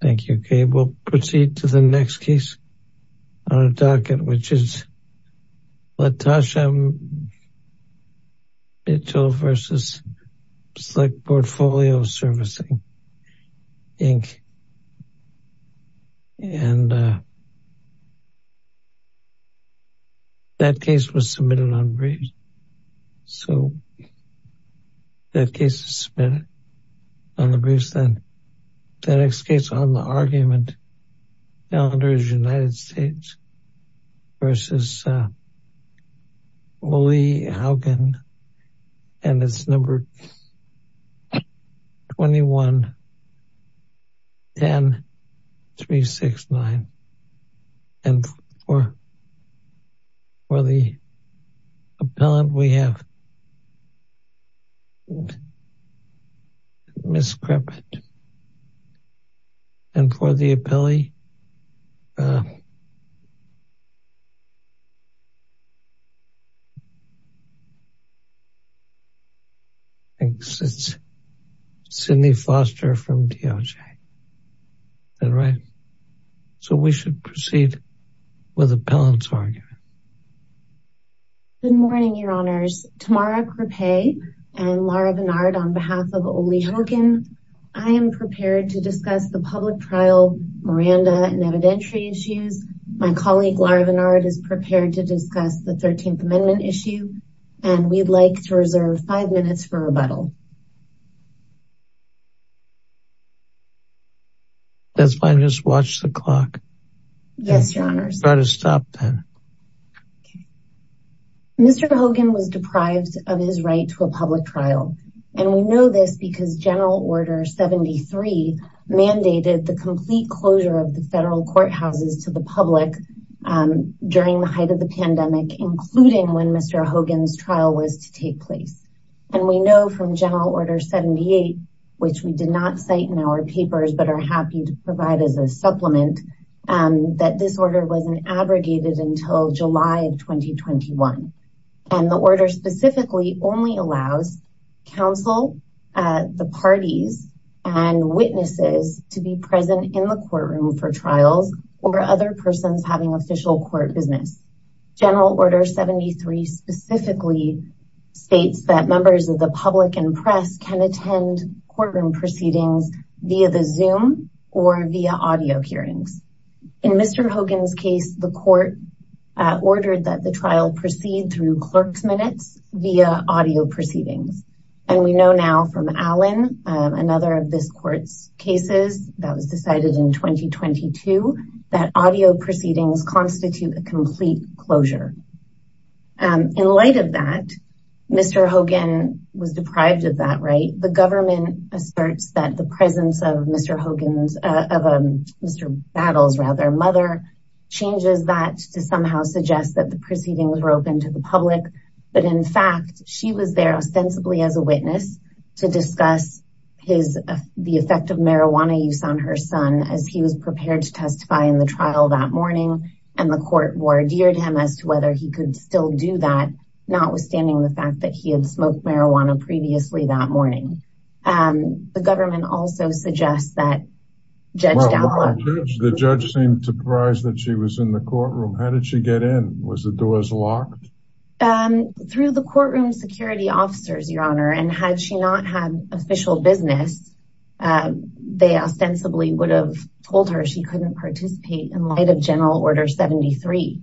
Thank you, Gabe. We'll proceed to the next case on our docket, which is Latasha Mitchell v. Select Portfolio Servicing, Inc. And that case was submitted on briefs. So that case is submitted on the briefs then. The next case on the argument calendar is United States v. Ole Hougen, and it's numbered 21-10-369. And for the appellant, we have Ms. Crippet. And for the appellee, it's Sydney Foster from DOJ. All right. So we should proceed with the appellant's argument. Good morning, Your Honors. Tamara Crippet and Laura Bernard on behalf of Ole Hougen. I am prepared to discuss the public trial Miranda and evidentiary issues. My colleague, Laura Bernard, is prepared to discuss the 13th Amendment issue, and we'd like to reserve five minutes for rebuttal. That's fine. Just watch the clock. Yes, Your Honors. Try to stop then. Mr. Hougen was deprived of his right to a public trial. And we know this because General Order 73 mandated the complete closure of the federal courthouses to the public during the height of the pandemic, including when Mr. Hougen's trial was to take place. And we know from General Order 78, which we did not cite in our papers but are happy to provide as a supplement, that this order wasn't abrogated until July of 2021. And the order specifically only allows counsel, the parties, and witnesses to be present in the courtroom for trials or other persons having official court business. General Order 73 specifically states that members of the public and press can attend courtroom proceedings via the Zoom or via audio hearings. In Mr. Hougen's case, the court ordered that the trial proceed through clerk's minutes via audio proceedings. And we know now from Allen, another of this court's cases that was decided in 2022, that audio proceedings constitute a complete closure. In light of that, Mr. Hougen was deprived of that right. The government asserts that the presence of Mr. Battle's mother changes that to somehow suggest that the proceedings were open to the public. But in fact, she was there ostensibly as a witness to discuss the effect of marijuana use on her son as he was prepared to testify in the trial that morning. And the court wardered him as to whether he could still do that, notwithstanding the fact that he had smoked marijuana previously that morning. The government also suggests that Judge Dowler... The judge seemed surprised that she was in the courtroom. How did she get in? Was the doors locked? Through the courtroom security officers, Your Honor. And had she not had official business, they ostensibly would have told her she couldn't participate in light of General Order 73.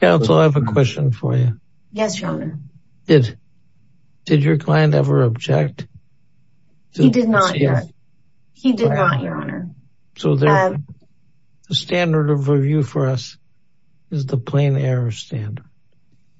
Counsel, I have a question for you. Yes, Your Honor. Did your client ever object? He did not, Your Honor. So the standard of review for us is the plain error standard.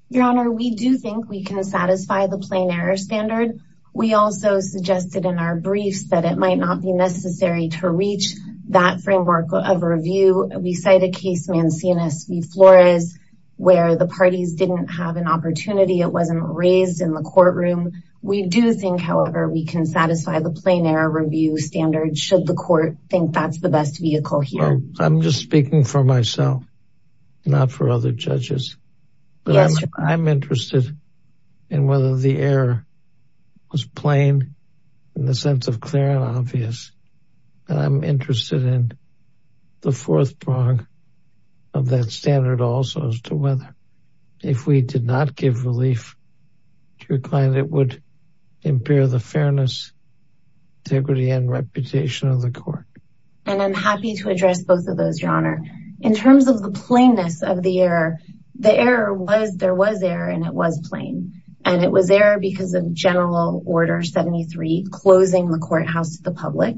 Your Honor, we do think we can satisfy the plain error standard. We also suggested in our briefs that it might not be necessary to reach that framework of review. We cite a case, Mancini v. Flores, where the parties didn't have an opportunity. It wasn't raised in the courtroom. We do think, however, we can satisfy the plain error review standard should the court think that's the best vehicle here. I'm just speaking for myself, not for other judges. Yes, Your Honor. I'm interested in whether the error was plain in the sense of clear and obvious. And I'm interested in the fourth prong of that standard also as to whether, if we did not give relief to your client, it would impair the fairness, integrity, and reputation of the court. And I'm happy to address both of those, Your Honor. In terms of the plainness of the error, there was error and it was plain. And it was error because of General Order 73 closing the courthouse to the public.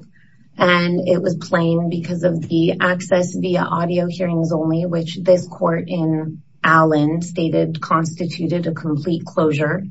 And it was plain because of the access via audio hearings only, which this court in Allen stated constituted a complete closure.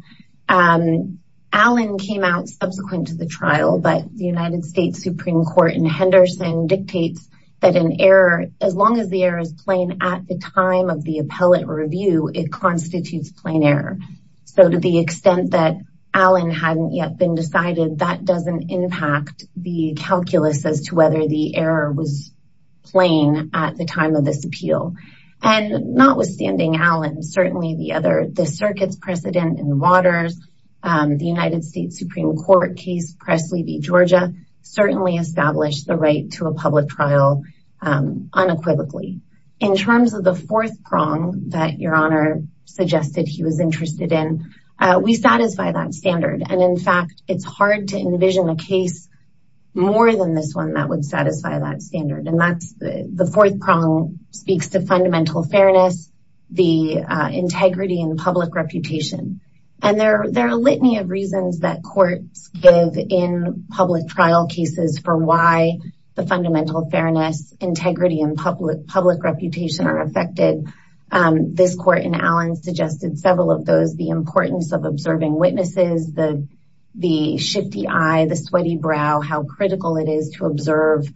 Allen came out subsequent to the trial, but the United States Supreme Court in Henderson dictates that an error, as long as the error is plain at the time of the appellate review, it constitutes plain error. So to the extent that Allen hadn't yet been decided, that doesn't impact the calculus as to whether the error was plain at the time of this appeal. And notwithstanding Allen, certainly the other, the circuit's precedent in Waters, the United States Supreme Court case, Presley v. Georgia, certainly established the right to a public trial unequivocally. In terms of the fourth prong that Your Honor suggested he was interested in, we satisfy that standard. And in fact, it's hard to envision a case more than this one that would satisfy that standard. And that's the fourth prong speaks to fundamental fairness, the integrity and public reputation. And there are a litany of reasons that courts give in public trial cases for why the fundamental fairness, integrity and public reputation are affected. This court in Allen suggested several of those, the importance of observing witnesses, the shifty eye, the sweaty brow, how critical it is to observe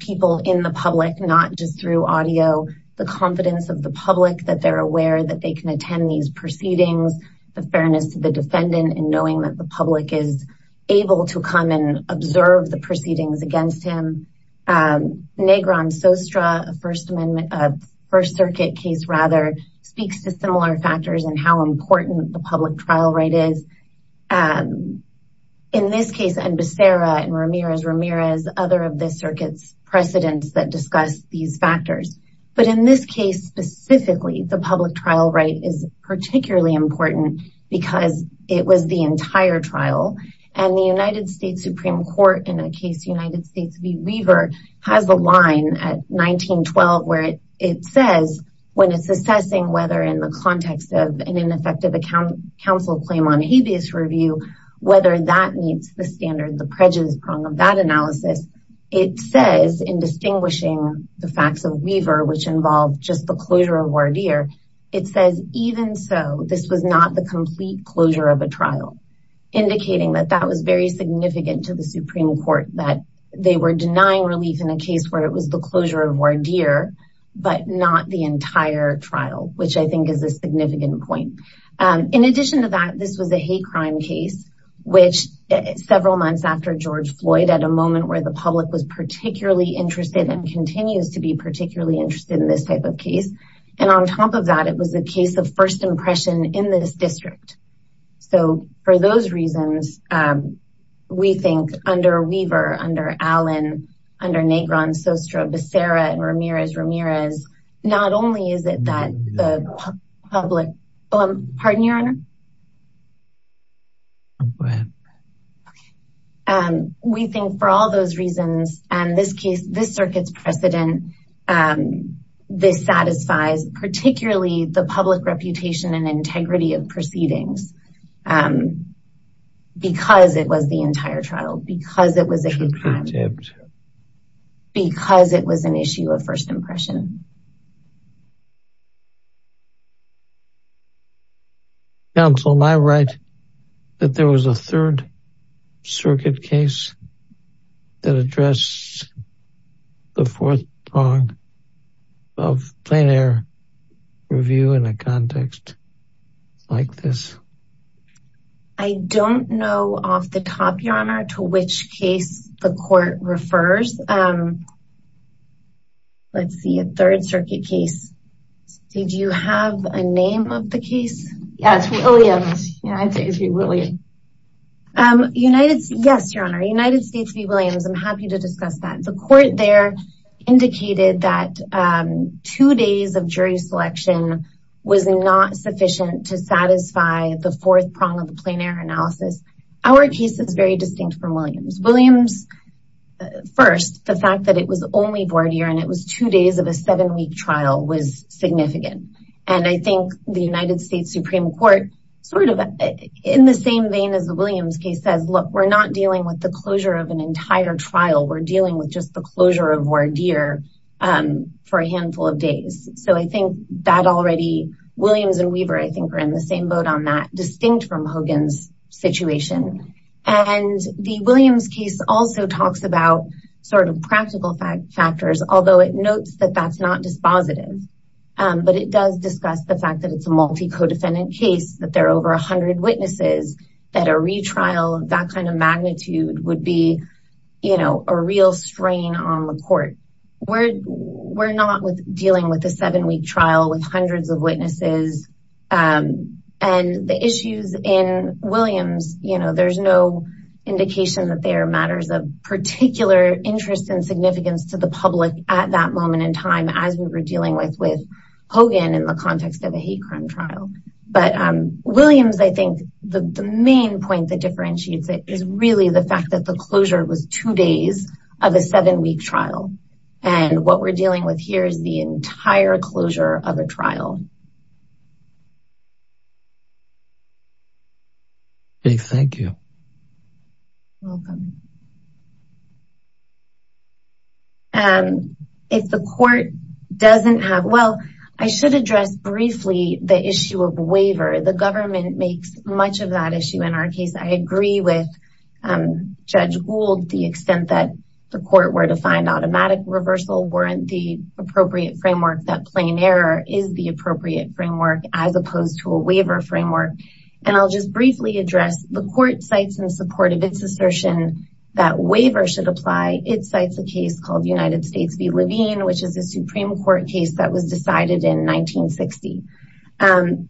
people in the public, not just through audio. The confidence of the public that they're aware that they can attend these proceedings. The fairness of the defendant in knowing that the public is able to come and observe the proceedings against him. Negron-Sostra, a First Circuit case rather, speaks to similar factors and how important the public trial right is. In this case, and Becerra and Ramirez, Ramirez, other of the circuit's precedents that discuss these factors. But in this case, specifically, the public trial right is particularly important because it was the entire trial. And the United States Supreme Court in a case, United States v. Weaver, has a line at 1912 where it says when it's assessing whether in the context of an ineffective counsel claim on habeas review, whether that meets the standard, the prejudice prong of that analysis. It says in distinguishing the facts of Weaver, which involved just the closure of Wardeer. It says even so, this was not the complete closure of a trial, indicating that that was very significant to the Supreme Court, that they were denying relief in a case where it was the closure of Wardeer, but not the entire trial, which I think is a significant point. In addition to that, this was a hate crime case, which several months after George Floyd, at a moment where the public was particularly interested and continues to be particularly interested in this type of case. And on top of that, it was a case of first impression in this district. So for those reasons, we think under Weaver, under Allen, under Negron, Sostro, Becerra, Ramirez, Ramirez, not only is it that the public pardon your honor. We think for all those reasons, and this case, this circuit's precedent, this satisfies particularly the public reputation and integrity of proceedings because it was the entire trial, because it was a hate crime, because it was an issue of first impression. Counsel, am I right that there was a third circuit case that addressed the fourth prong of plein air review in a context like this? I don't know off the top, your honor, to which case the court refers. Let's see a third circuit case. Did you have a name of the case? Yes, Williams. United. Yes, your honor. United States v. Williams. I'm happy to discuss that. The court there indicated that two days of jury selection was not sufficient to satisfy the fourth prong of the plein air analysis. Our case is very distinct from Williams. Williams, first, the fact that it was only board year and it was two days of a seven week trial was significant. And I think the United States Supreme Court sort of in the same vein as the Williams case says, look, we're not dealing with the closure of an entire trial. We're dealing with just the closure of voir dire for a handful of days. So I think that already Williams and Weaver, I think, are in the same boat on that distinct from Hogan's situation. And the Williams case also talks about sort of practical factors, although it notes that that's not dispositive. But it does discuss the fact that it's a multi codependent case, that there are over 100 witnesses, that a retrial of that kind of magnitude would be, you know, a real strain on the court. We're not dealing with a seven week trial with hundreds of witnesses and the issues in Williams. You know, there's no indication that there are matters of particular interest and significance to the public at that moment in time as we were dealing with with Hogan in the context of a hate crime trial. But Williams, I think the main point that differentiates it is really the fact that the closure was two days of a seven week trial. And what we're dealing with here is the entire closure of a trial. Thank you. Welcome. And if the court doesn't have. Well, I should address briefly the issue of waiver. The government makes much of that issue in our case. I agree with Judge Gould. The extent that the court were to find automatic reversal weren't the appropriate framework. That plain error is the appropriate framework as opposed to a waiver framework. And I'll just briefly address the court sites in support of its assertion that waiver should apply. It cites a case called United States v. Levine, which is a Supreme Court case that was decided in 1960.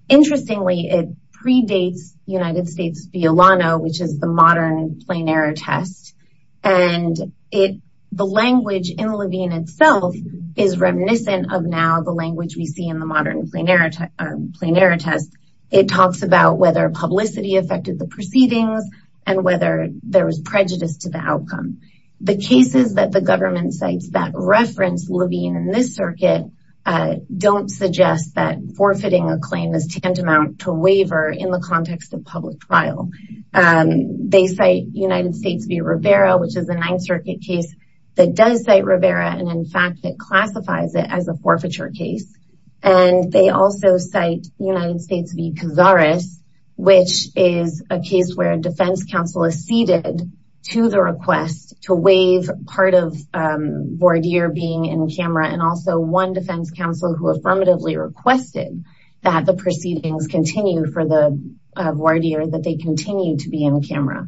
Interestingly, it predates United States v. Olano, which is the modern plain error test. And it the language in Levine itself is reminiscent of now the language we see in the modern plain error test. It talks about whether publicity affected the proceedings and whether there was prejudice to the outcome. The cases that the government sites that reference Levine in this circuit don't suggest that forfeiting a claim is tantamount to waiver in the context of public trial. They say United States v. Rivera, which is a Ninth Circuit case that does say Rivera. And in fact, it classifies it as a forfeiture case. And they also cite United States v. Cazares, which is a case where a defense counsel is ceded to the request to waive part of voir dire being in camera. And also one defense counsel who affirmatively requested that the proceedings continue for the voir dire, that they continue to be in camera.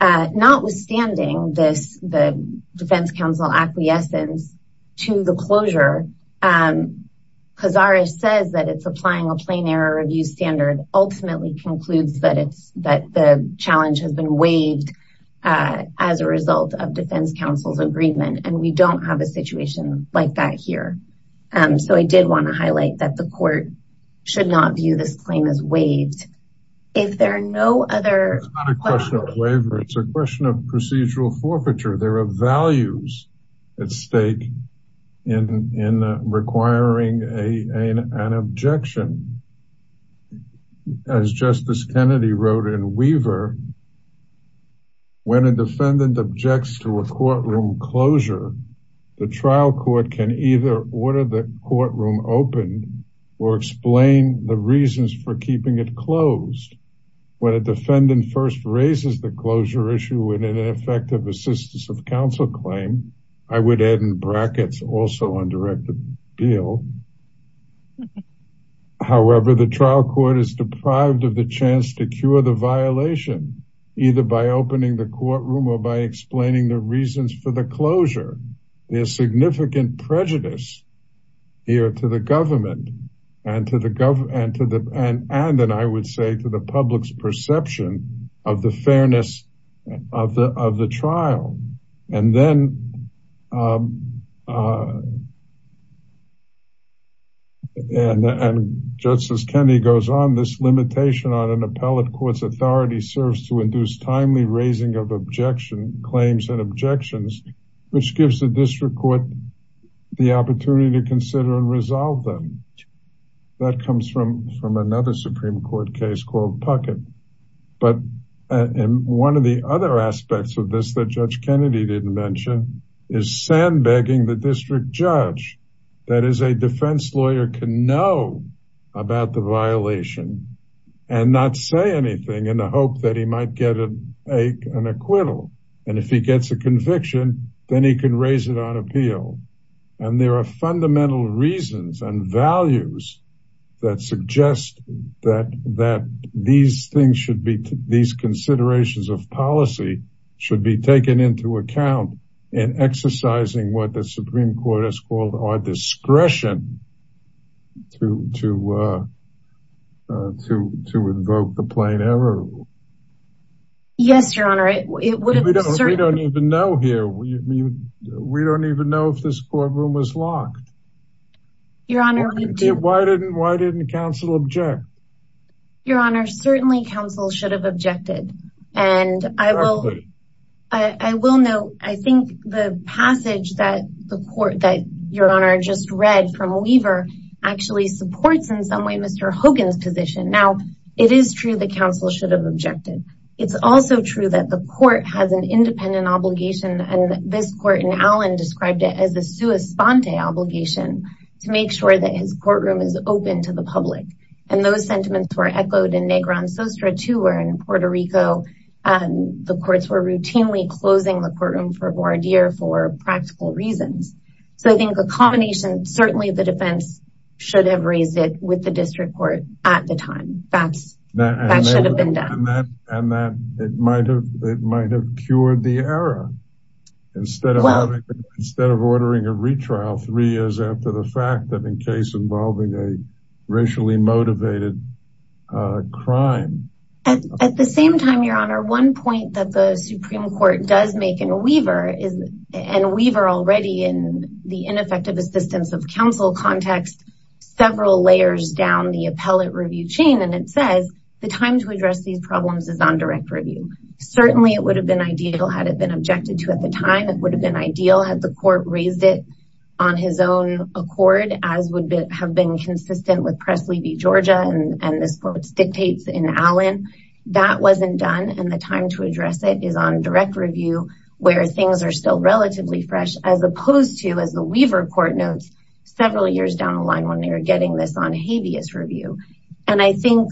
Notwithstanding this, the defense counsel acquiescence to the closure, Cazares says that it's applying a plain error review standard, ultimately concludes that it's that the challenge has been waived as a result of defense counsel's agreement. And we don't have a situation like that here. So I did want to highlight that the court should not view this claim as waived. It's not a question of waiver, it's a question of procedural forfeiture. There are values at stake in requiring an objection. As Justice Kennedy wrote in Weaver, when a defendant objects to a courtroom closure, the trial court can either order the courtroom open or explain the reasons for keeping it closed. When a defendant first raises the closure issue with an ineffective assistance of counsel claim, I would add in brackets also undirected appeal. However, the trial court is deprived of the chance to cure the violation, either by opening the courtroom or by explaining the reasons for the closure. There is significant prejudice here to the government and to the public's perception of the fairness of the trial. And then, and Justice Kennedy goes on, this limitation on an appellate court's authority serves to induce timely raising of objection claims and objections, which gives the district court the opportunity to consider and resolve them. That comes from another Supreme Court case called Puckett. But one of the other aspects of this that Judge Kennedy didn't mention is sandbagging the district judge. That is, a defense lawyer can know about the violation and not say anything in the hope that he might get an acquittal. And if he gets a conviction, then he can raise it on appeal. And there are fundamental reasons and values that suggest that these considerations of policy should be taken into account in exercising what the Supreme Court has called our discretion to invoke the plain error rule. Yes, Your Honor. We don't even know here. We don't even know if this courtroom was locked. Your Honor, we do. Why didn't counsel object? Your Honor, certainly counsel should have objected. And I will note, I think the passage that the court that Your Honor just read from Weaver actually supports in some way Mr. Hogan's position. Now, it is true that counsel should have objected. It's also true that the court has an independent obligation, and this court in Allen described it as a sua sponte obligation to make sure that his courtroom is open to the public. And those sentiments were echoed in Negron Sostra, too, where in Puerto Rico, the courts were routinely closing the courtroom for voir dire for practical reasons. So I think a combination, certainly the defense should have raised it with the district court at the time. That should have been done. And that it might have cured the error instead of ordering a retrial three years after the fact that in case involving a racially motivated crime. At the same time, Your Honor, one point that the Supreme Court does make in Weaver is and Weaver already in the ineffective assistance of counsel context, several layers down the appellate review chain. And it says the time to address these problems is on direct review. Certainly it would have been ideal had it been objected to at the time. It would have been ideal had the court raised it on his own accord, as would have been consistent with Presley v. Georgia. And this quote dictates in Allen that wasn't done. And the time to address it is on direct review where things are still relatively fresh, as opposed to, as the Weaver court notes, several years down the line when they were getting this on habeas review. And I think,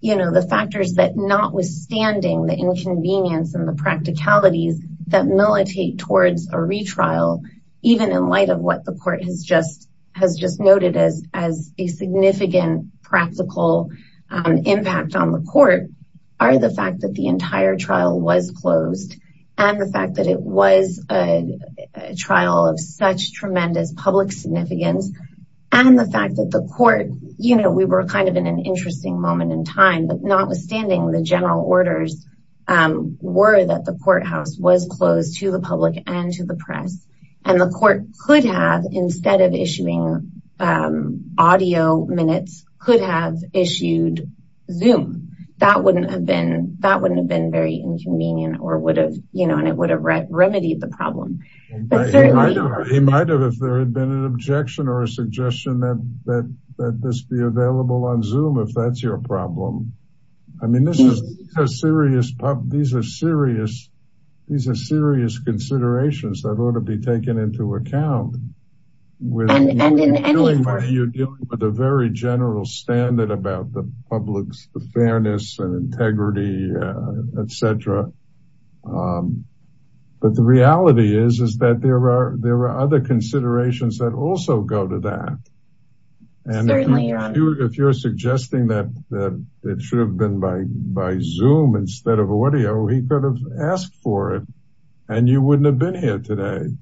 you know, the factors that notwithstanding the inconvenience and the practicalities that militate towards a retrial, even in light of what the court has just has just noted as as a significant practical impact on the court are the fact that the entire trial was closed. And the fact that it was a trial of such tremendous public significance and the fact that the court, you know, we were kind of in an interesting moment in time, but notwithstanding the general orders were that the courthouse was closed to the public and to the press. And the court could have, instead of issuing audio minutes, could have issued Zoom. That wouldn't have been that wouldn't have been very inconvenient or would have, you know, and it would have remedied the problem. He might have, if there had been an objection or a suggestion that this be available on Zoom, if that's your problem. I mean, this is a serious problem. These are serious. These are serious considerations that ought to be taken into account. You're dealing with a very general standard about the public's fairness and integrity, etc. But the reality is, is that there are there are other considerations that also go to that. If you're suggesting that it should have been by by Zoom instead of audio, he could have asked for it and you wouldn't have been here today.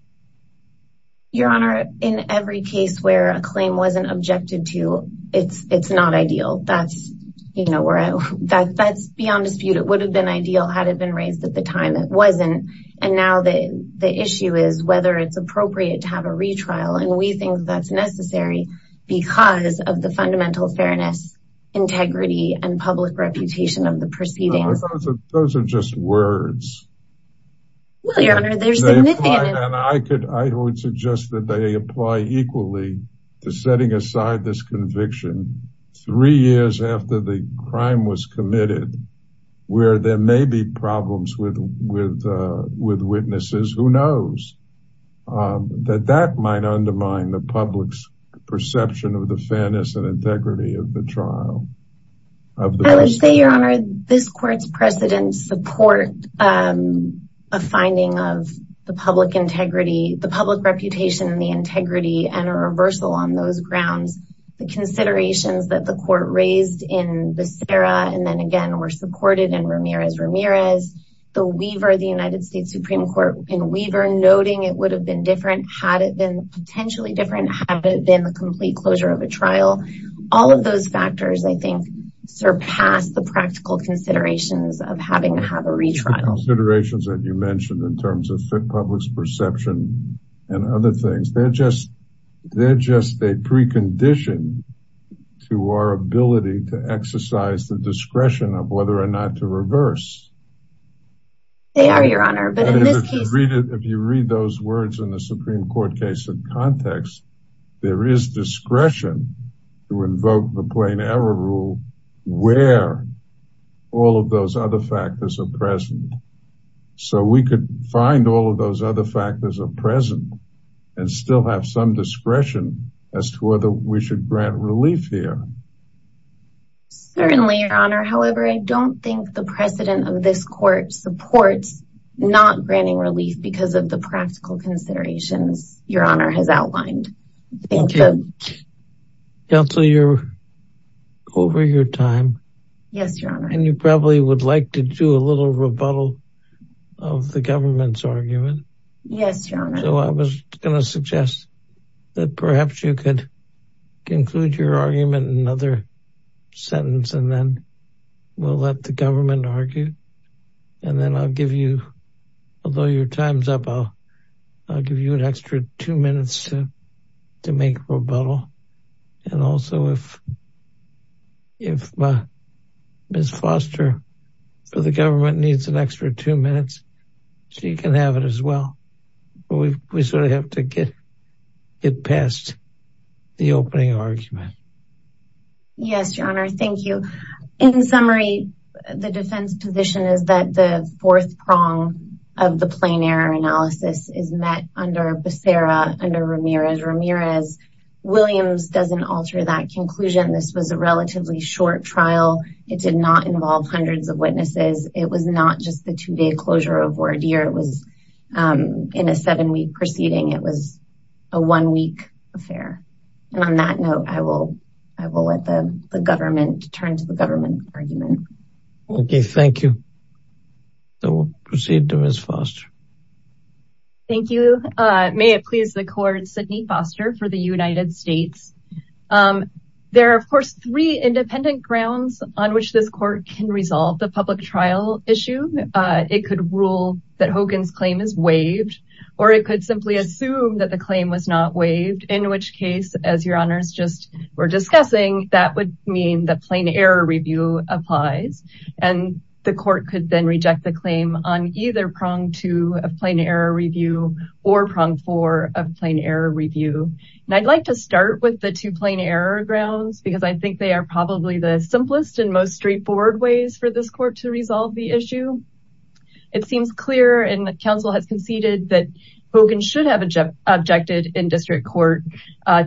Your Honor, in every case where a claim wasn't objected to, it's it's not ideal. That's, you know, that's beyond dispute. It would have been ideal had it been raised at the time. It wasn't. And now the issue is whether it's appropriate to have a retrial. And we think that's necessary because of the fundamental fairness, integrity and public reputation of the proceedings. Those are just words. I could I would suggest that they apply equally to setting aside this conviction three years after the crime was committed, where there may be problems with with with witnesses. Who knows that that might undermine the public's perception of the fairness and integrity of the trial? I would say, Your Honor, this court's precedents support a finding of the public integrity, the public reputation and the integrity and a reversal on those grounds. The considerations that the court raised in the Sarah and then again were supported in Ramirez Ramirez. The Weaver, the United States Supreme Court in Weaver, noting it would have been different had it been potentially different had it been the complete closure of a trial. All of those factors, I think, surpass the practical considerations of having to have a retrial considerations that you mentioned in terms of the public's perception and other things. They're just they're just a precondition to our ability to exercise the discretion of whether or not to reverse. They are, Your Honor, but if you read it, if you read those words in the Supreme Court case in context, there is discretion to invoke the plain error rule where all of those other factors are present. So we could find all of those other factors are present and still have some discretion as to whether we should grant relief here. Certainly, Your Honor, however, I don't think the precedent of this court supports not granting relief because of the practical considerations Your Honor has outlined. Counselor, you're over your time. Yes, Your Honor. And you probably would like to do a little rebuttal of the government's argument. Yes, Your Honor. So I was going to suggest that perhaps you could conclude your argument in another sentence and then we'll let the government argue. And then I'll give you, although your time's up, I'll give you an extra two minutes to make rebuttal. And also, if Ms. Foster for the government needs an extra two minutes, she can have it as well. But we sort of have to get past the opening argument. Yes, Your Honor. Thank you. In summary, the defense position is that the fourth prong of the plain error analysis is met under Becerra under Ramirez. Ramirez-Williams doesn't alter that conclusion. This was a relatively short trial. It did not involve hundreds of witnesses. It was not just the two-day closure of Wardere. It was in a seven-week proceeding. It was a one-week affair. And on that note, I will let the government turn to the government argument. Okay, thank you. So we'll proceed to Ms. Foster. Thank you. May it please the court, Sidney Foster for the United States. There are, of course, three independent grounds on which this court can resolve the public trial issue. It could rule that Hogan's claim is waived, or it could simply assume that the claim was not waived. In which case, as Your Honors just were discussing, that would mean the plain error review applies. And the court could then reject the claim on either prong two of plain error review or prong four of plain error review. And I'd like to start with the two plain error grounds because I think they are probably the simplest and most straightforward ways for this court to resolve the issue. It seems clear and the council has conceded that Hogan should have objected in district court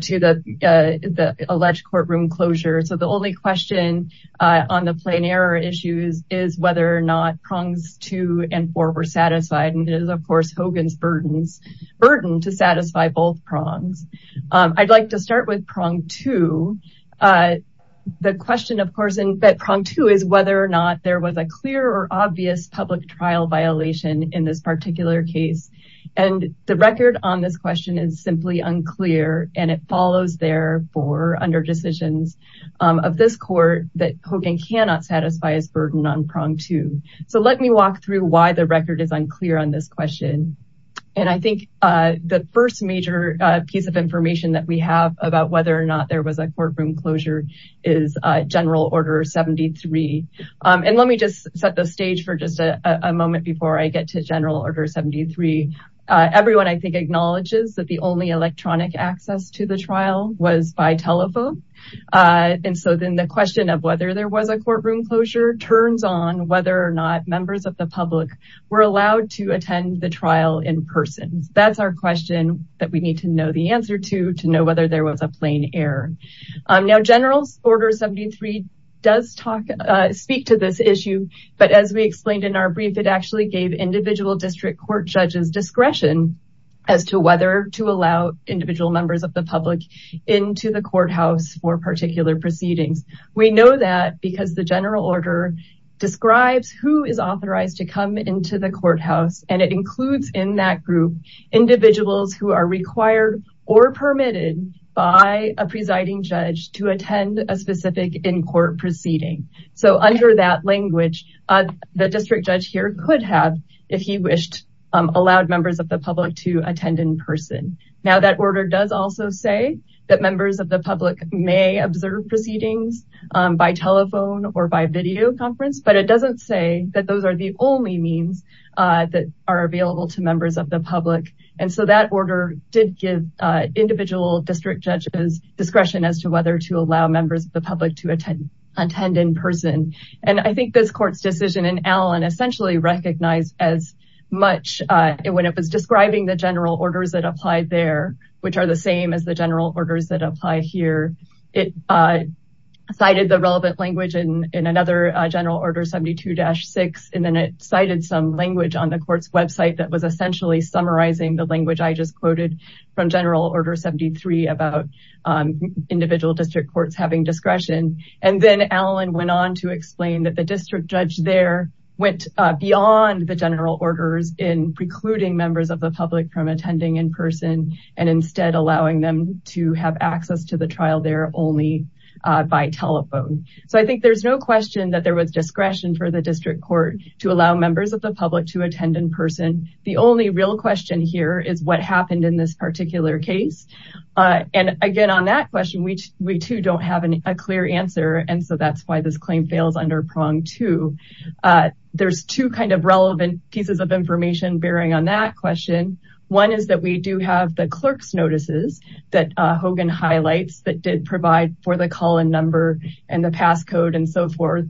to the alleged courtroom closure. So the only question on the plain error issue is whether or not prongs two and four were satisfied. And it is, of course, Hogan's burden to satisfy both prongs. I'd like to start with prong two. The question, of course, in prong two is whether or not there was a clear or obvious public trial violation in this particular case. And the record on this question is simply unclear. And it follows, therefore, under decisions of this court that Hogan cannot satisfy his burden on prong two. So let me walk through why the record is unclear on this question. And I think the first major piece of information that we have about whether or not there was a courtroom closure is general order 73. And let me just set the stage for just a moment before I get to general order 73. Everyone, I think, acknowledges that the only electronic access to the trial was by telephone. And so then the question of whether there was a courtroom closure turns on whether or not members of the public were allowed to attend the trial in person. That's our question that we need to know the answer to, to know whether there was a plain error. Now, general's order 73 does speak to this issue. But as we explained in our brief, it actually gave individual district court judges discretion as to whether to allow individual members of the public into the courthouse for particular proceedings. We know that because the general order describes who is authorized to come into the courthouse. And it includes in that group individuals who are required or permitted by a presiding judge to attend a specific in court proceeding. So under that language, the district judge here could have, if he wished, allowed members of the public to attend in person. Now, that order does also say that members of the public may observe proceedings by telephone or by video conference. But it doesn't say that those are the only means that are available to members of the public. And so that order did give individual district judges discretion as to whether to allow members of the public to attend in person. And I think this court's decision in Allen essentially recognized as much when it was describing the general orders that applied there, which are the same as the general orders that apply here. It cited the relevant language in another general order 72-6. And then it cited some language on the court's website that was essentially summarizing the language I just quoted from general order 73 about individual district courts having discretion. And then Allen went on to explain that the district judge there went beyond the general orders in precluding members of the public from attending in person and instead allowing them to have access to the trial there only by telephone. So I think there's no question that there was discretion for the district court to allow members of the public to attend in person. The only real question here is what happened in this particular case. And again, on that question, we too don't have a clear answer. And so that's why this claim fails under prong two. There's two kind of relevant pieces of information bearing on that question. One is that we do have the clerk's notices that Hogan highlights that did provide for the call-in number and the passcode and so forth.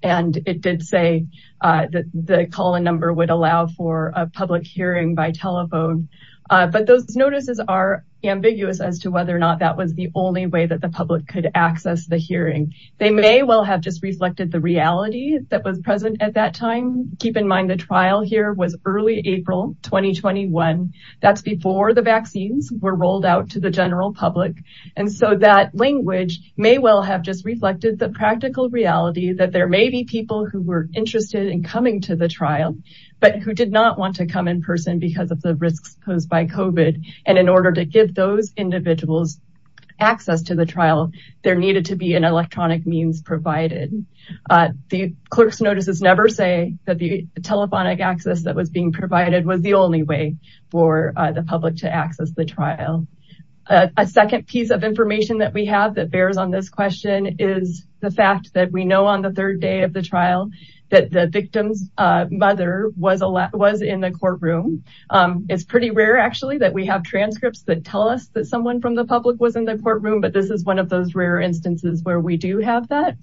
And it did say that the call-in number would allow for a public hearing by telephone. But those notices are ambiguous as to whether or not that was the only way that the public could access the hearing. They may well have just reflected the reality that was present at that time. Keep in mind the trial here was early April 2021. That's before the vaccines were rolled out to the general public. And so that language may well have just reflected the practical reality that there may be people who were interested in coming to the trial, but who did not want to come in person because of the risks posed by COVID. And in order to give those individuals access to the trial, there needed to be an electronic means provided. The clerk's notices never say that the telephonic access that was being provided was the only way for the public to access the trial. A second piece of information that we have that bears on this question is the fact that we know on the third day of the trial that the victim's mother was in the courtroom. It's pretty rare actually that we have transcripts that tell us that someone from the public was in the courtroom, but this is one of those rare instances where we do have that.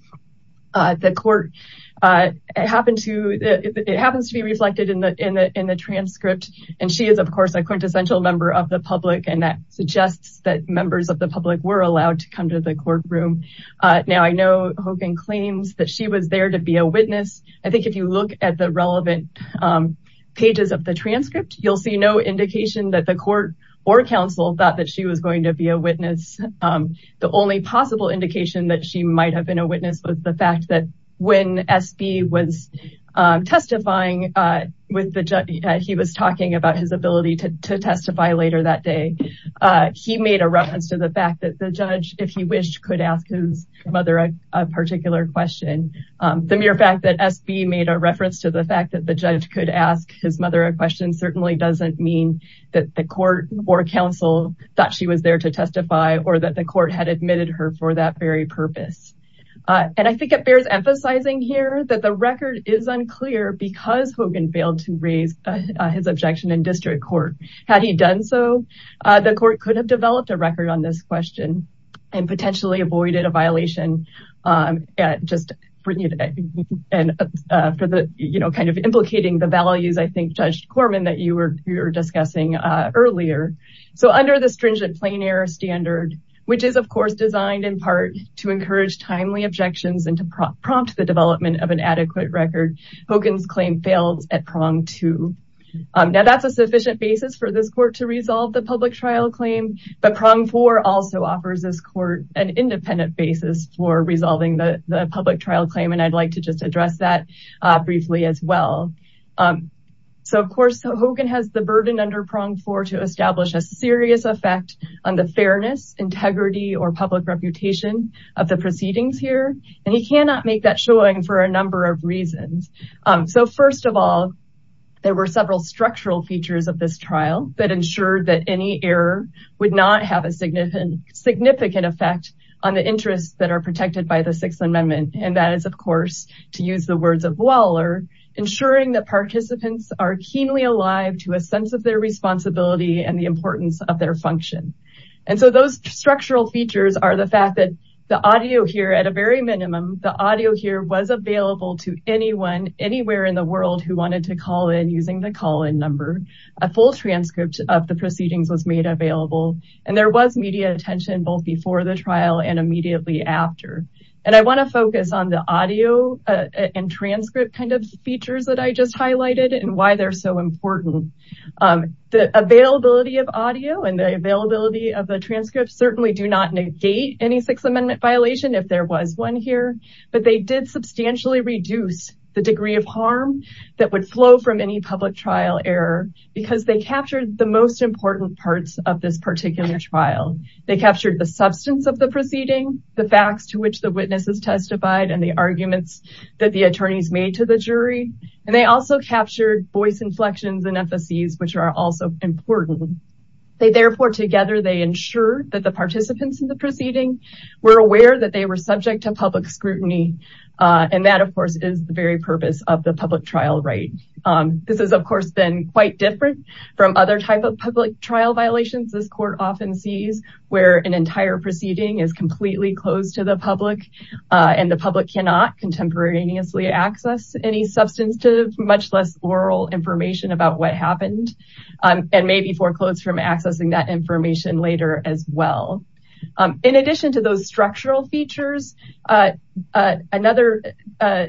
The court, it happens to be reflected in the transcript. And she is, of course, a quintessential member of the public, and that suggests that members of the public were allowed to come to the courtroom. Now, I know Hogan claims that she was there to be a witness. I think if you look at the relevant pages of the transcript, you'll see no indication that the court or counsel thought that she was going to be a witness. The only possible indication that she might have been a witness was the fact that when SB was testifying with the judge, he was talking about his ability to testify later that day. He made a reference to the fact that the judge, if he wished, could ask his mother a particular question. The mere fact that SB made a reference to the fact that the judge could ask his mother a question certainly doesn't mean that the court or counsel thought she was there to testify or that the court had admitted her for that very purpose. And I think it bears emphasizing here that the record is unclear because Hogan failed to raise his objection in district court. Had he done so, the court could have developed a record on this question and potentially avoided a violation. Just kind of implicating the values, I think, Judge Corman, that you were discussing earlier. So under the stringent plain air standard, which is, of course, designed in part to encourage timely objections and to prompt the development of an adequate record, Hogan's claim fails at prong two. Now, that's a sufficient basis for this court to resolve the public trial claim. But prong four also offers this court an independent basis for resolving the public trial claim. And I'd like to just address that briefly as well. So, of course, Hogan has the burden under prong four to establish a serious effect on the fairness, integrity or public reputation of the proceedings here. And he cannot make that showing for a number of reasons. So, first of all, there were several structural features of this trial that ensured that any error would not have a significant effect on the interests that are protected by the Sixth Amendment. And that is, of course, to use the words of Waller, ensuring that participants are keenly alive to a sense of their responsibility and the importance of their function. And so those structural features are the fact that the audio here at a very minimum, the audio here was available to anyone anywhere in the world who wanted to call in using the call in number. A full transcript of the proceedings was made available and there was media attention both before the trial and immediately after. And I want to focus on the audio and transcript kind of features that I just highlighted and why they're so important. The availability of audio and the availability of the transcripts certainly do not negate any Sixth Amendment violation if there was one here. But they did substantially reduce the degree of harm that would flow from any public trial error because they captured the most important parts of this particular trial. They captured the substance of the proceeding, the facts to which the witnesses testified and the arguments that the attorneys made to the jury. And they also captured voice inflections and emphases, which are also important. They therefore together, they ensure that the participants in the proceeding were aware that they were subject to public scrutiny. And that, of course, is the very purpose of the public trial, right? This is, of course, been quite different from other types of public trial violations. This court often sees where an entire proceeding is completely closed to the public and the public cannot contemporaneously access any substantive, much less oral information about what happened. And maybe foreclosed from accessing that information later as well. In addition to those structural features, another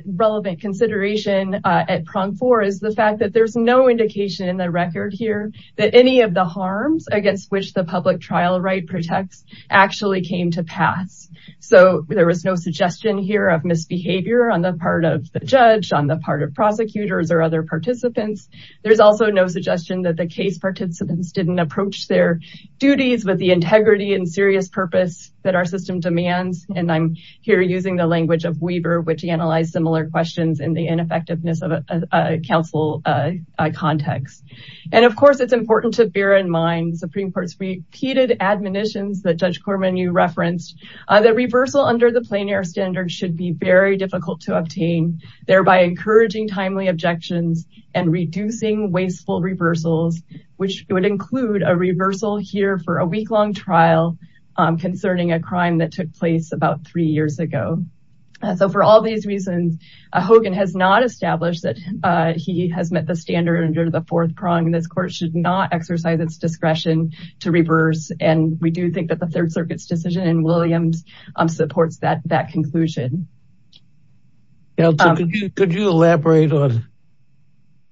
relevant consideration at prong four is the fact that there's no indication in the record here that any of the harms against which the public trial right protects actually came to pass. So there was no suggestion here of misbehavior on the part of the judge, on the part of prosecutors or other participants. There's also no suggestion that the case participants didn't approach their duties with the integrity and serious purpose that our system demands. And I'm here using the language of Weber, which he analyzed similar questions in the ineffectiveness of a council context. And of course, it's important to bear in mind Supreme Court's repeated admonitions that Judge Corman you referenced. The reversal under the plein air standard should be very difficult to obtain, thereby encouraging timely objections and reducing wasteful reversals, which would include a reversal here for a week long trial concerning a crime that took place about three years ago. So for all these reasons, Hogan has not established that he has met the standard under the fourth prong. This court should not exercise its discretion to reverse. And we do think that the Third Circuit's decision in Williams supports that conclusion. Could you elaborate on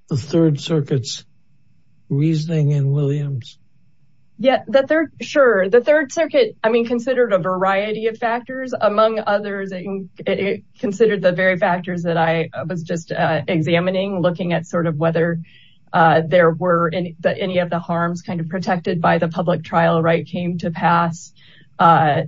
the Third Circuit's reasoning in Williams? Yeah, sure. The Third Circuit, I mean, considered a variety of factors. Among others, it considered the very factors that I was just examining, looking at sort of whether there were any of the harms kind of protected by the public trial right came to pass. Was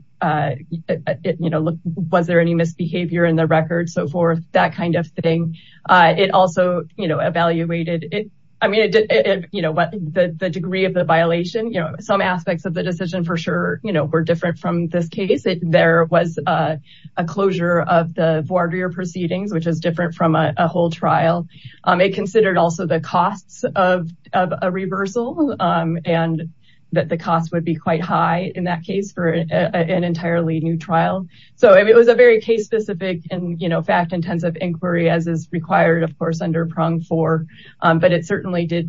there any misbehavior in the record? So for that kind of thing, it also evaluated it. I mean, the degree of the violation, some aspects of the decision for sure were different from this case. There was a closure of the voir dire proceedings, which is different from a whole trial. It considered also the costs of a reversal and that the cost would be quite high in that case for an entirely new trial. So it was a very case specific and fact intensive inquiry as is required, of course, under prong four. But it certainly did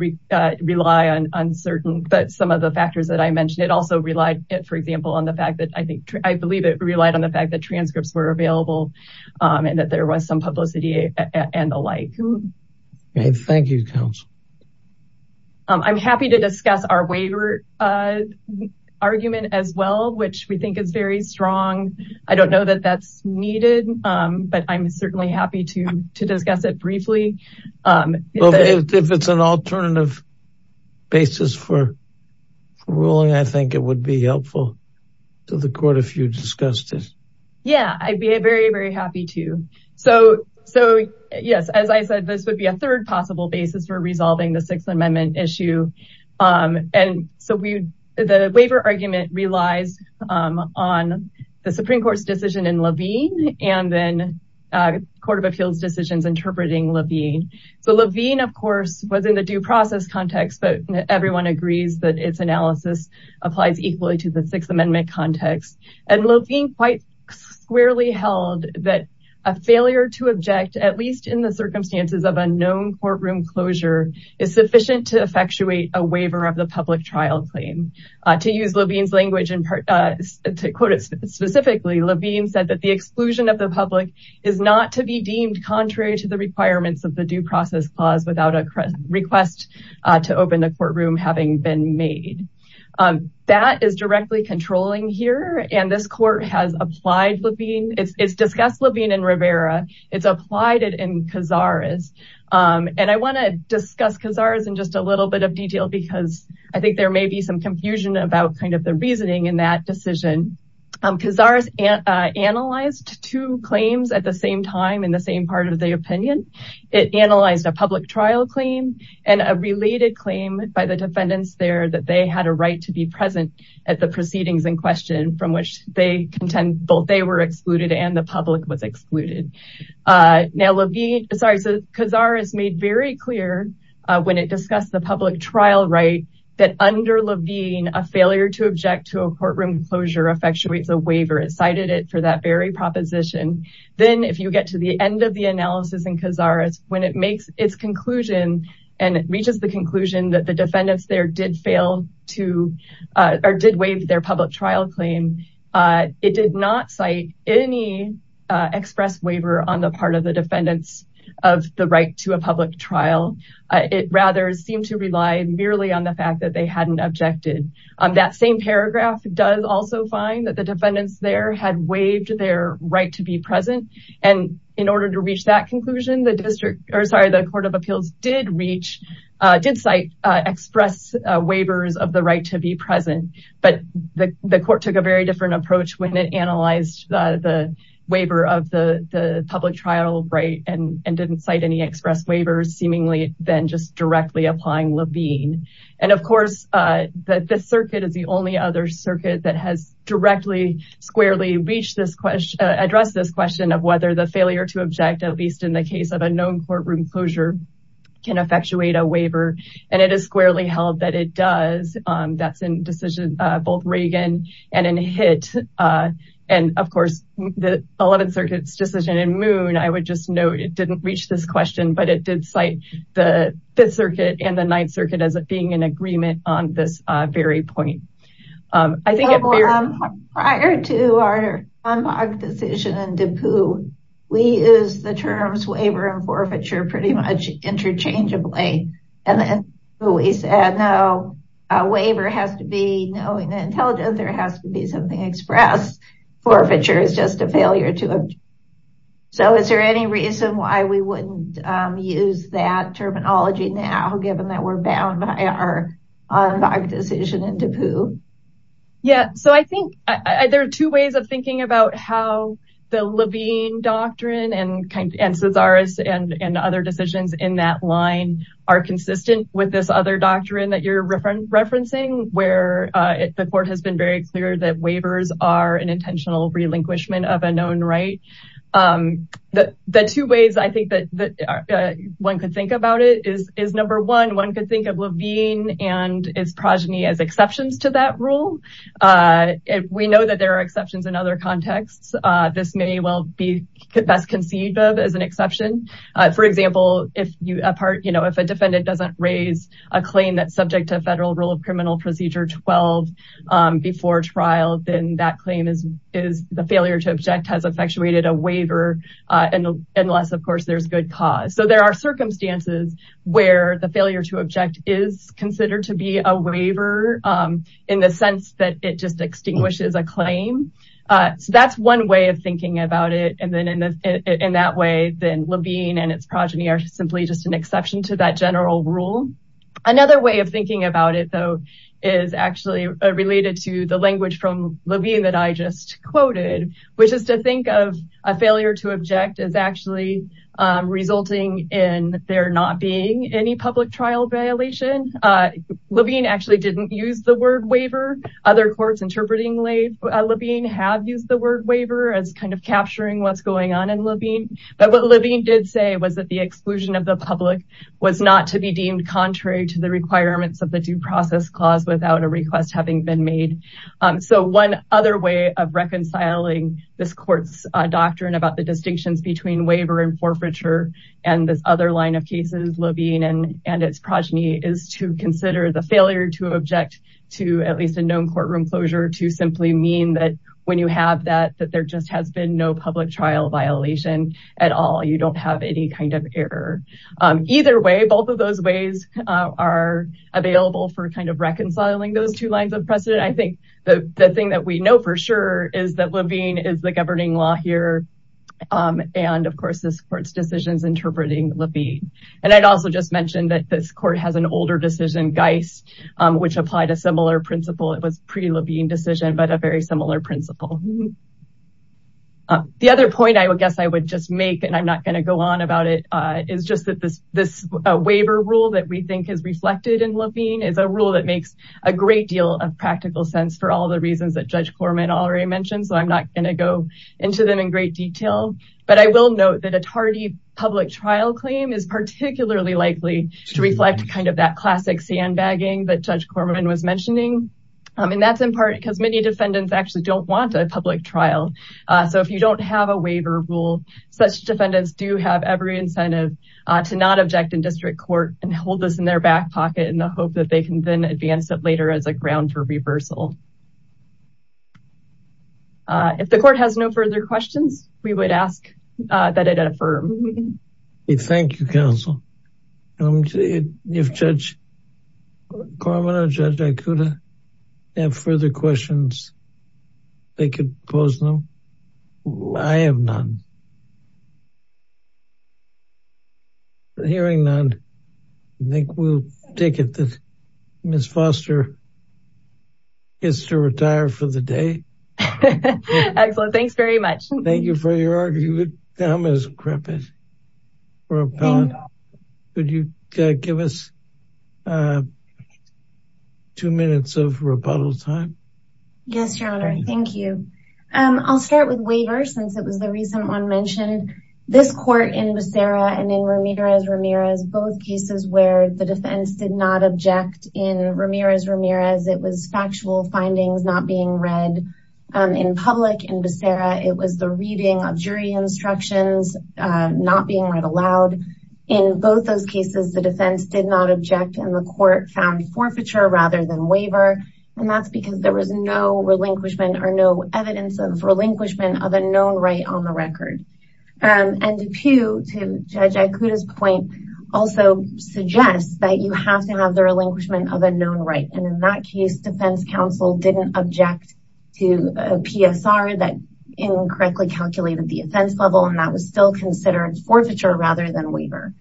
rely on uncertain. But some of the factors that I mentioned, it also relied, for example, on the fact that I believe it relied on the fact that transcripts were available and that there was some publicity and the like. Thank you, counsel. I'm happy to discuss our waiver argument as well, which we think is very strong. I don't know that that's needed, but I'm certainly happy to discuss it briefly. If it's an alternative basis for ruling, I think it would be helpful to the court if you discussed it. Yeah, I'd be very, very happy to. So so, yes, as I said, this would be a third possible basis for resolving the Sixth Amendment issue. And so we the waiver argument relies on the Supreme Court's decision in Levine and then Court of Appeals decisions interpreting Levine. So Levine, of course, was in the due process context. But everyone agrees that its analysis applies equally to the Sixth Amendment context. And Levine quite squarely held that a failure to object, at least in the circumstances of unknown courtroom closure, is sufficient to effectuate a waiver of the public trial claim. To use Levine's language and to quote it specifically, Levine said that the exclusion of the public is not to be deemed contrary to the requirements of the due process clause without a request to open the courtroom having been made. That is directly controlling here. And this court has applied Levine. It's discussed Levine and Rivera. It's applied it in Cazares. And I want to discuss Cazares in just a little bit of detail, because I think there may be some confusion about kind of the reasoning in that decision. Cazares analyzed two claims at the same time in the same part of the opinion. It analyzed a public trial claim and a related claim by the defendants there that they had a right to be present at the proceedings in question from which they contend both they were excluded and the public was excluded. Now, Levine, sorry, Cazares made very clear when it discussed the public trial right that under Levine, a failure to object to a courtroom closure effectuates a waiver. It cited it for that very proposition. Then if you get to the end of the analysis in Cazares, when it makes its conclusion and reaches the conclusion that the defendants there did fail to or did waive their public trial claim, it did not cite any express waiver on the part of the defendants of the right to a public trial. It rather seemed to rely merely on the fact that they hadn't objected. That same paragraph does also find that the defendants there had waived their right to be present. And in order to reach that conclusion, the court of appeals did cite express waivers of the right to be present. But the court took a very different approach when it analyzed the waiver of the public trial right and didn't cite any express waivers seemingly than just directly applying Levine. And of course, the Fifth Circuit is the only other circuit that has directly, squarely addressed this question of whether the failure to object, at least in the case of a known courtroom closure, can effectuate a waiver. And it is squarely held that it does. That's in decision both Reagan and in Hitt. And of course, the 11th Circuit's decision in Moon, I would just note, it didn't reach this question, but it did cite the Fifth Circuit and the Ninth Circuit as being in agreement on this very point. I think prior to our decision in Dupout, we use the terms waiver and forfeiture pretty much interchangeably. And we said, no, a waiver has to be knowing the intelligence. There has to be something expressed. Forfeiture is just a failure to. So is there any reason why we wouldn't use that terminology now, given that we're bound by our decision in Dupout? Yeah, so I think there are two ways of thinking about how the Levine doctrine and Cesaris and other decisions in that line are consistent with this other doctrine that you're referencing, where the court has been very clear that waivers are an intentional relinquishment of a known right. The two ways I think that one could think about it is, number one, one could think of Levine and its progeny as exceptions to that rule. We know that there are exceptions in other contexts. This may well be best conceived of as an exception. For example, if a defendant doesn't raise a claim that's subject to a federal rule of criminal procedure 12 before trial, then that claim is the failure to object has effectuated a waiver, unless, of course, there's good cause. So there are circumstances where the failure to object is considered to be a waiver in the sense that it just extinguishes a claim. So that's one way of thinking about it. And then in that way, then Levine and its progeny are simply just an exception to that general rule. Another way of thinking about it, though, is actually related to the language from Levine that I just quoted, which is to think of a failure to object as actually resulting in there not being any public trial violation. Levine actually didn't use the word waiver. Other courts interpreting Levine have used the word waiver as kind of capturing what's going on in Levine. But what Levine did say was that the exclusion of the public was not to be deemed contrary to the requirements of the due process clause without a request having been made. So one other way of reconciling this court's doctrine about the distinctions between waiver and forfeiture and this other line of cases, Levine and its progeny, is to consider the failure to object to at least a known courtroom closure to simply mean that when you have that, that there just has been no public trial violation at all. So you don't have any kind of error. Either way, both of those ways are available for kind of reconciling those two lines of precedent. I think the thing that we know for sure is that Levine is the governing law here. And of course, this court's decisions interpreting Levine. And I'd also just mentioned that this court has an older decision, Geist, which applied a similar principle. It was pre-Levine decision, but a very similar principle. The other point I would guess I would just make, and I'm not gonna go on about it, is just that this waiver rule that we think is reflected in Levine is a rule that makes a great deal of practical sense for all the reasons that Judge Corman already mentioned. So I'm not gonna go into them in great detail, but I will note that a tardy public trial claim is particularly likely to reflect kind of that classic sandbagging that Judge Corman was mentioning. And that's in part because many defendants actually don't want a public trial. So if you don't have a waiver rule, such defendants do have every incentive to not object in district court and hold this in their back pocket in the hope that they can then advance it later as a ground for reversal. If the court has no further questions, we would ask that it affirm. Thank you, counsel. If Judge Corman or Judge Ikuda have further questions, they could pose them. I have none. Hearing none, I think we'll take it that Ms. Foster gets to retire for the day. Excellent. Thanks very much. Thank you for your argument. I'm as crepit. Could you give us two minutes of rebuttal time? Yes, Your Honor. Thank you. I'll start with waivers since it was the recent one mentioned. This court in Becerra and in Ramirez-Ramirez, both cases where the defense did not object in Ramirez-Ramirez, it was factual findings not being read in public. In Becerra, it was the reading of jury instructions not being read aloud. In both those cases, the defense did not object and the court found forfeiture rather than waiver. And that's because there was no relinquishment or no evidence of relinquishment of a known right on the record. And Depew, to Judge Ikuda's point, also suggests that you have to have the relinquishment of a known right. And in that case, defense counsel didn't object to a PSR that incorrectly calculated the offense level and that was still considered forfeiture rather than waiver.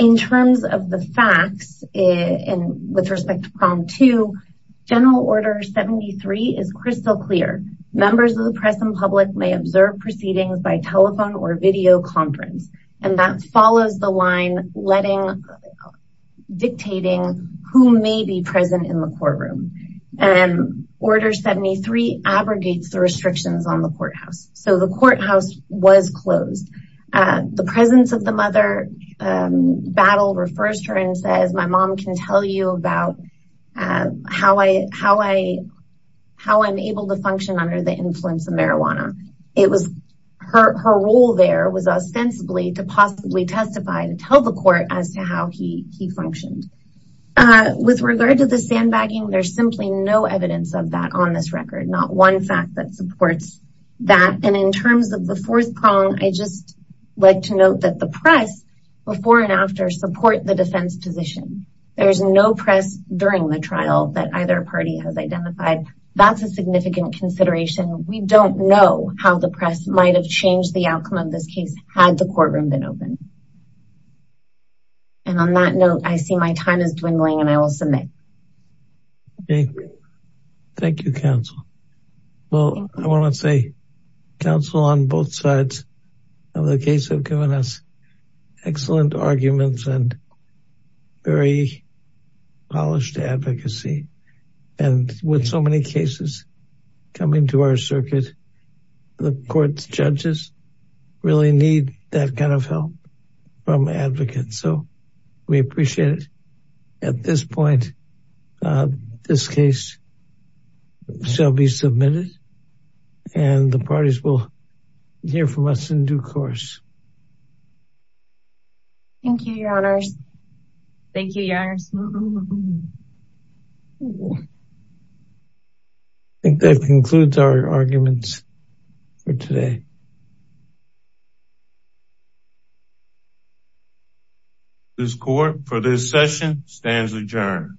In terms of the facts with respect to Problem 2, General Order 73 is crystal clear. Members of the press and public may observe proceedings by telephone or video conference. And that follows the line dictating who may be present in the courtroom. And Order 73 abrogates the restrictions on the courthouse. So the courthouse was closed. The presence of the mother, Battle, refers to her and says, My mom can tell you about how I'm able to function under the influence of marijuana. Her role there was ostensibly to possibly testify and tell the court as to how he functioned. With regard to the sandbagging, there's simply no evidence of that on this record. Not one fact that supports that. And in terms of the fourth prong, I just like to note that the press before and after support the defense position. There is no press during the trial that either party has identified. That's a significant consideration. We don't know how the press might have changed the outcome of this case had the courtroom been open. And on that note, I see my time is dwindling and I will submit. Thank you, counsel. Well, I want to say counsel on both sides of the case have given us excellent arguments and very polished advocacy. And with so many cases coming to our circuit, the court's judges really need that kind of help from advocates. So we appreciate it. At this point, this case shall be submitted and the parties will hear from us in due course. Thank you. Thank you. That concludes our arguments for today. This court for this session stands adjourned.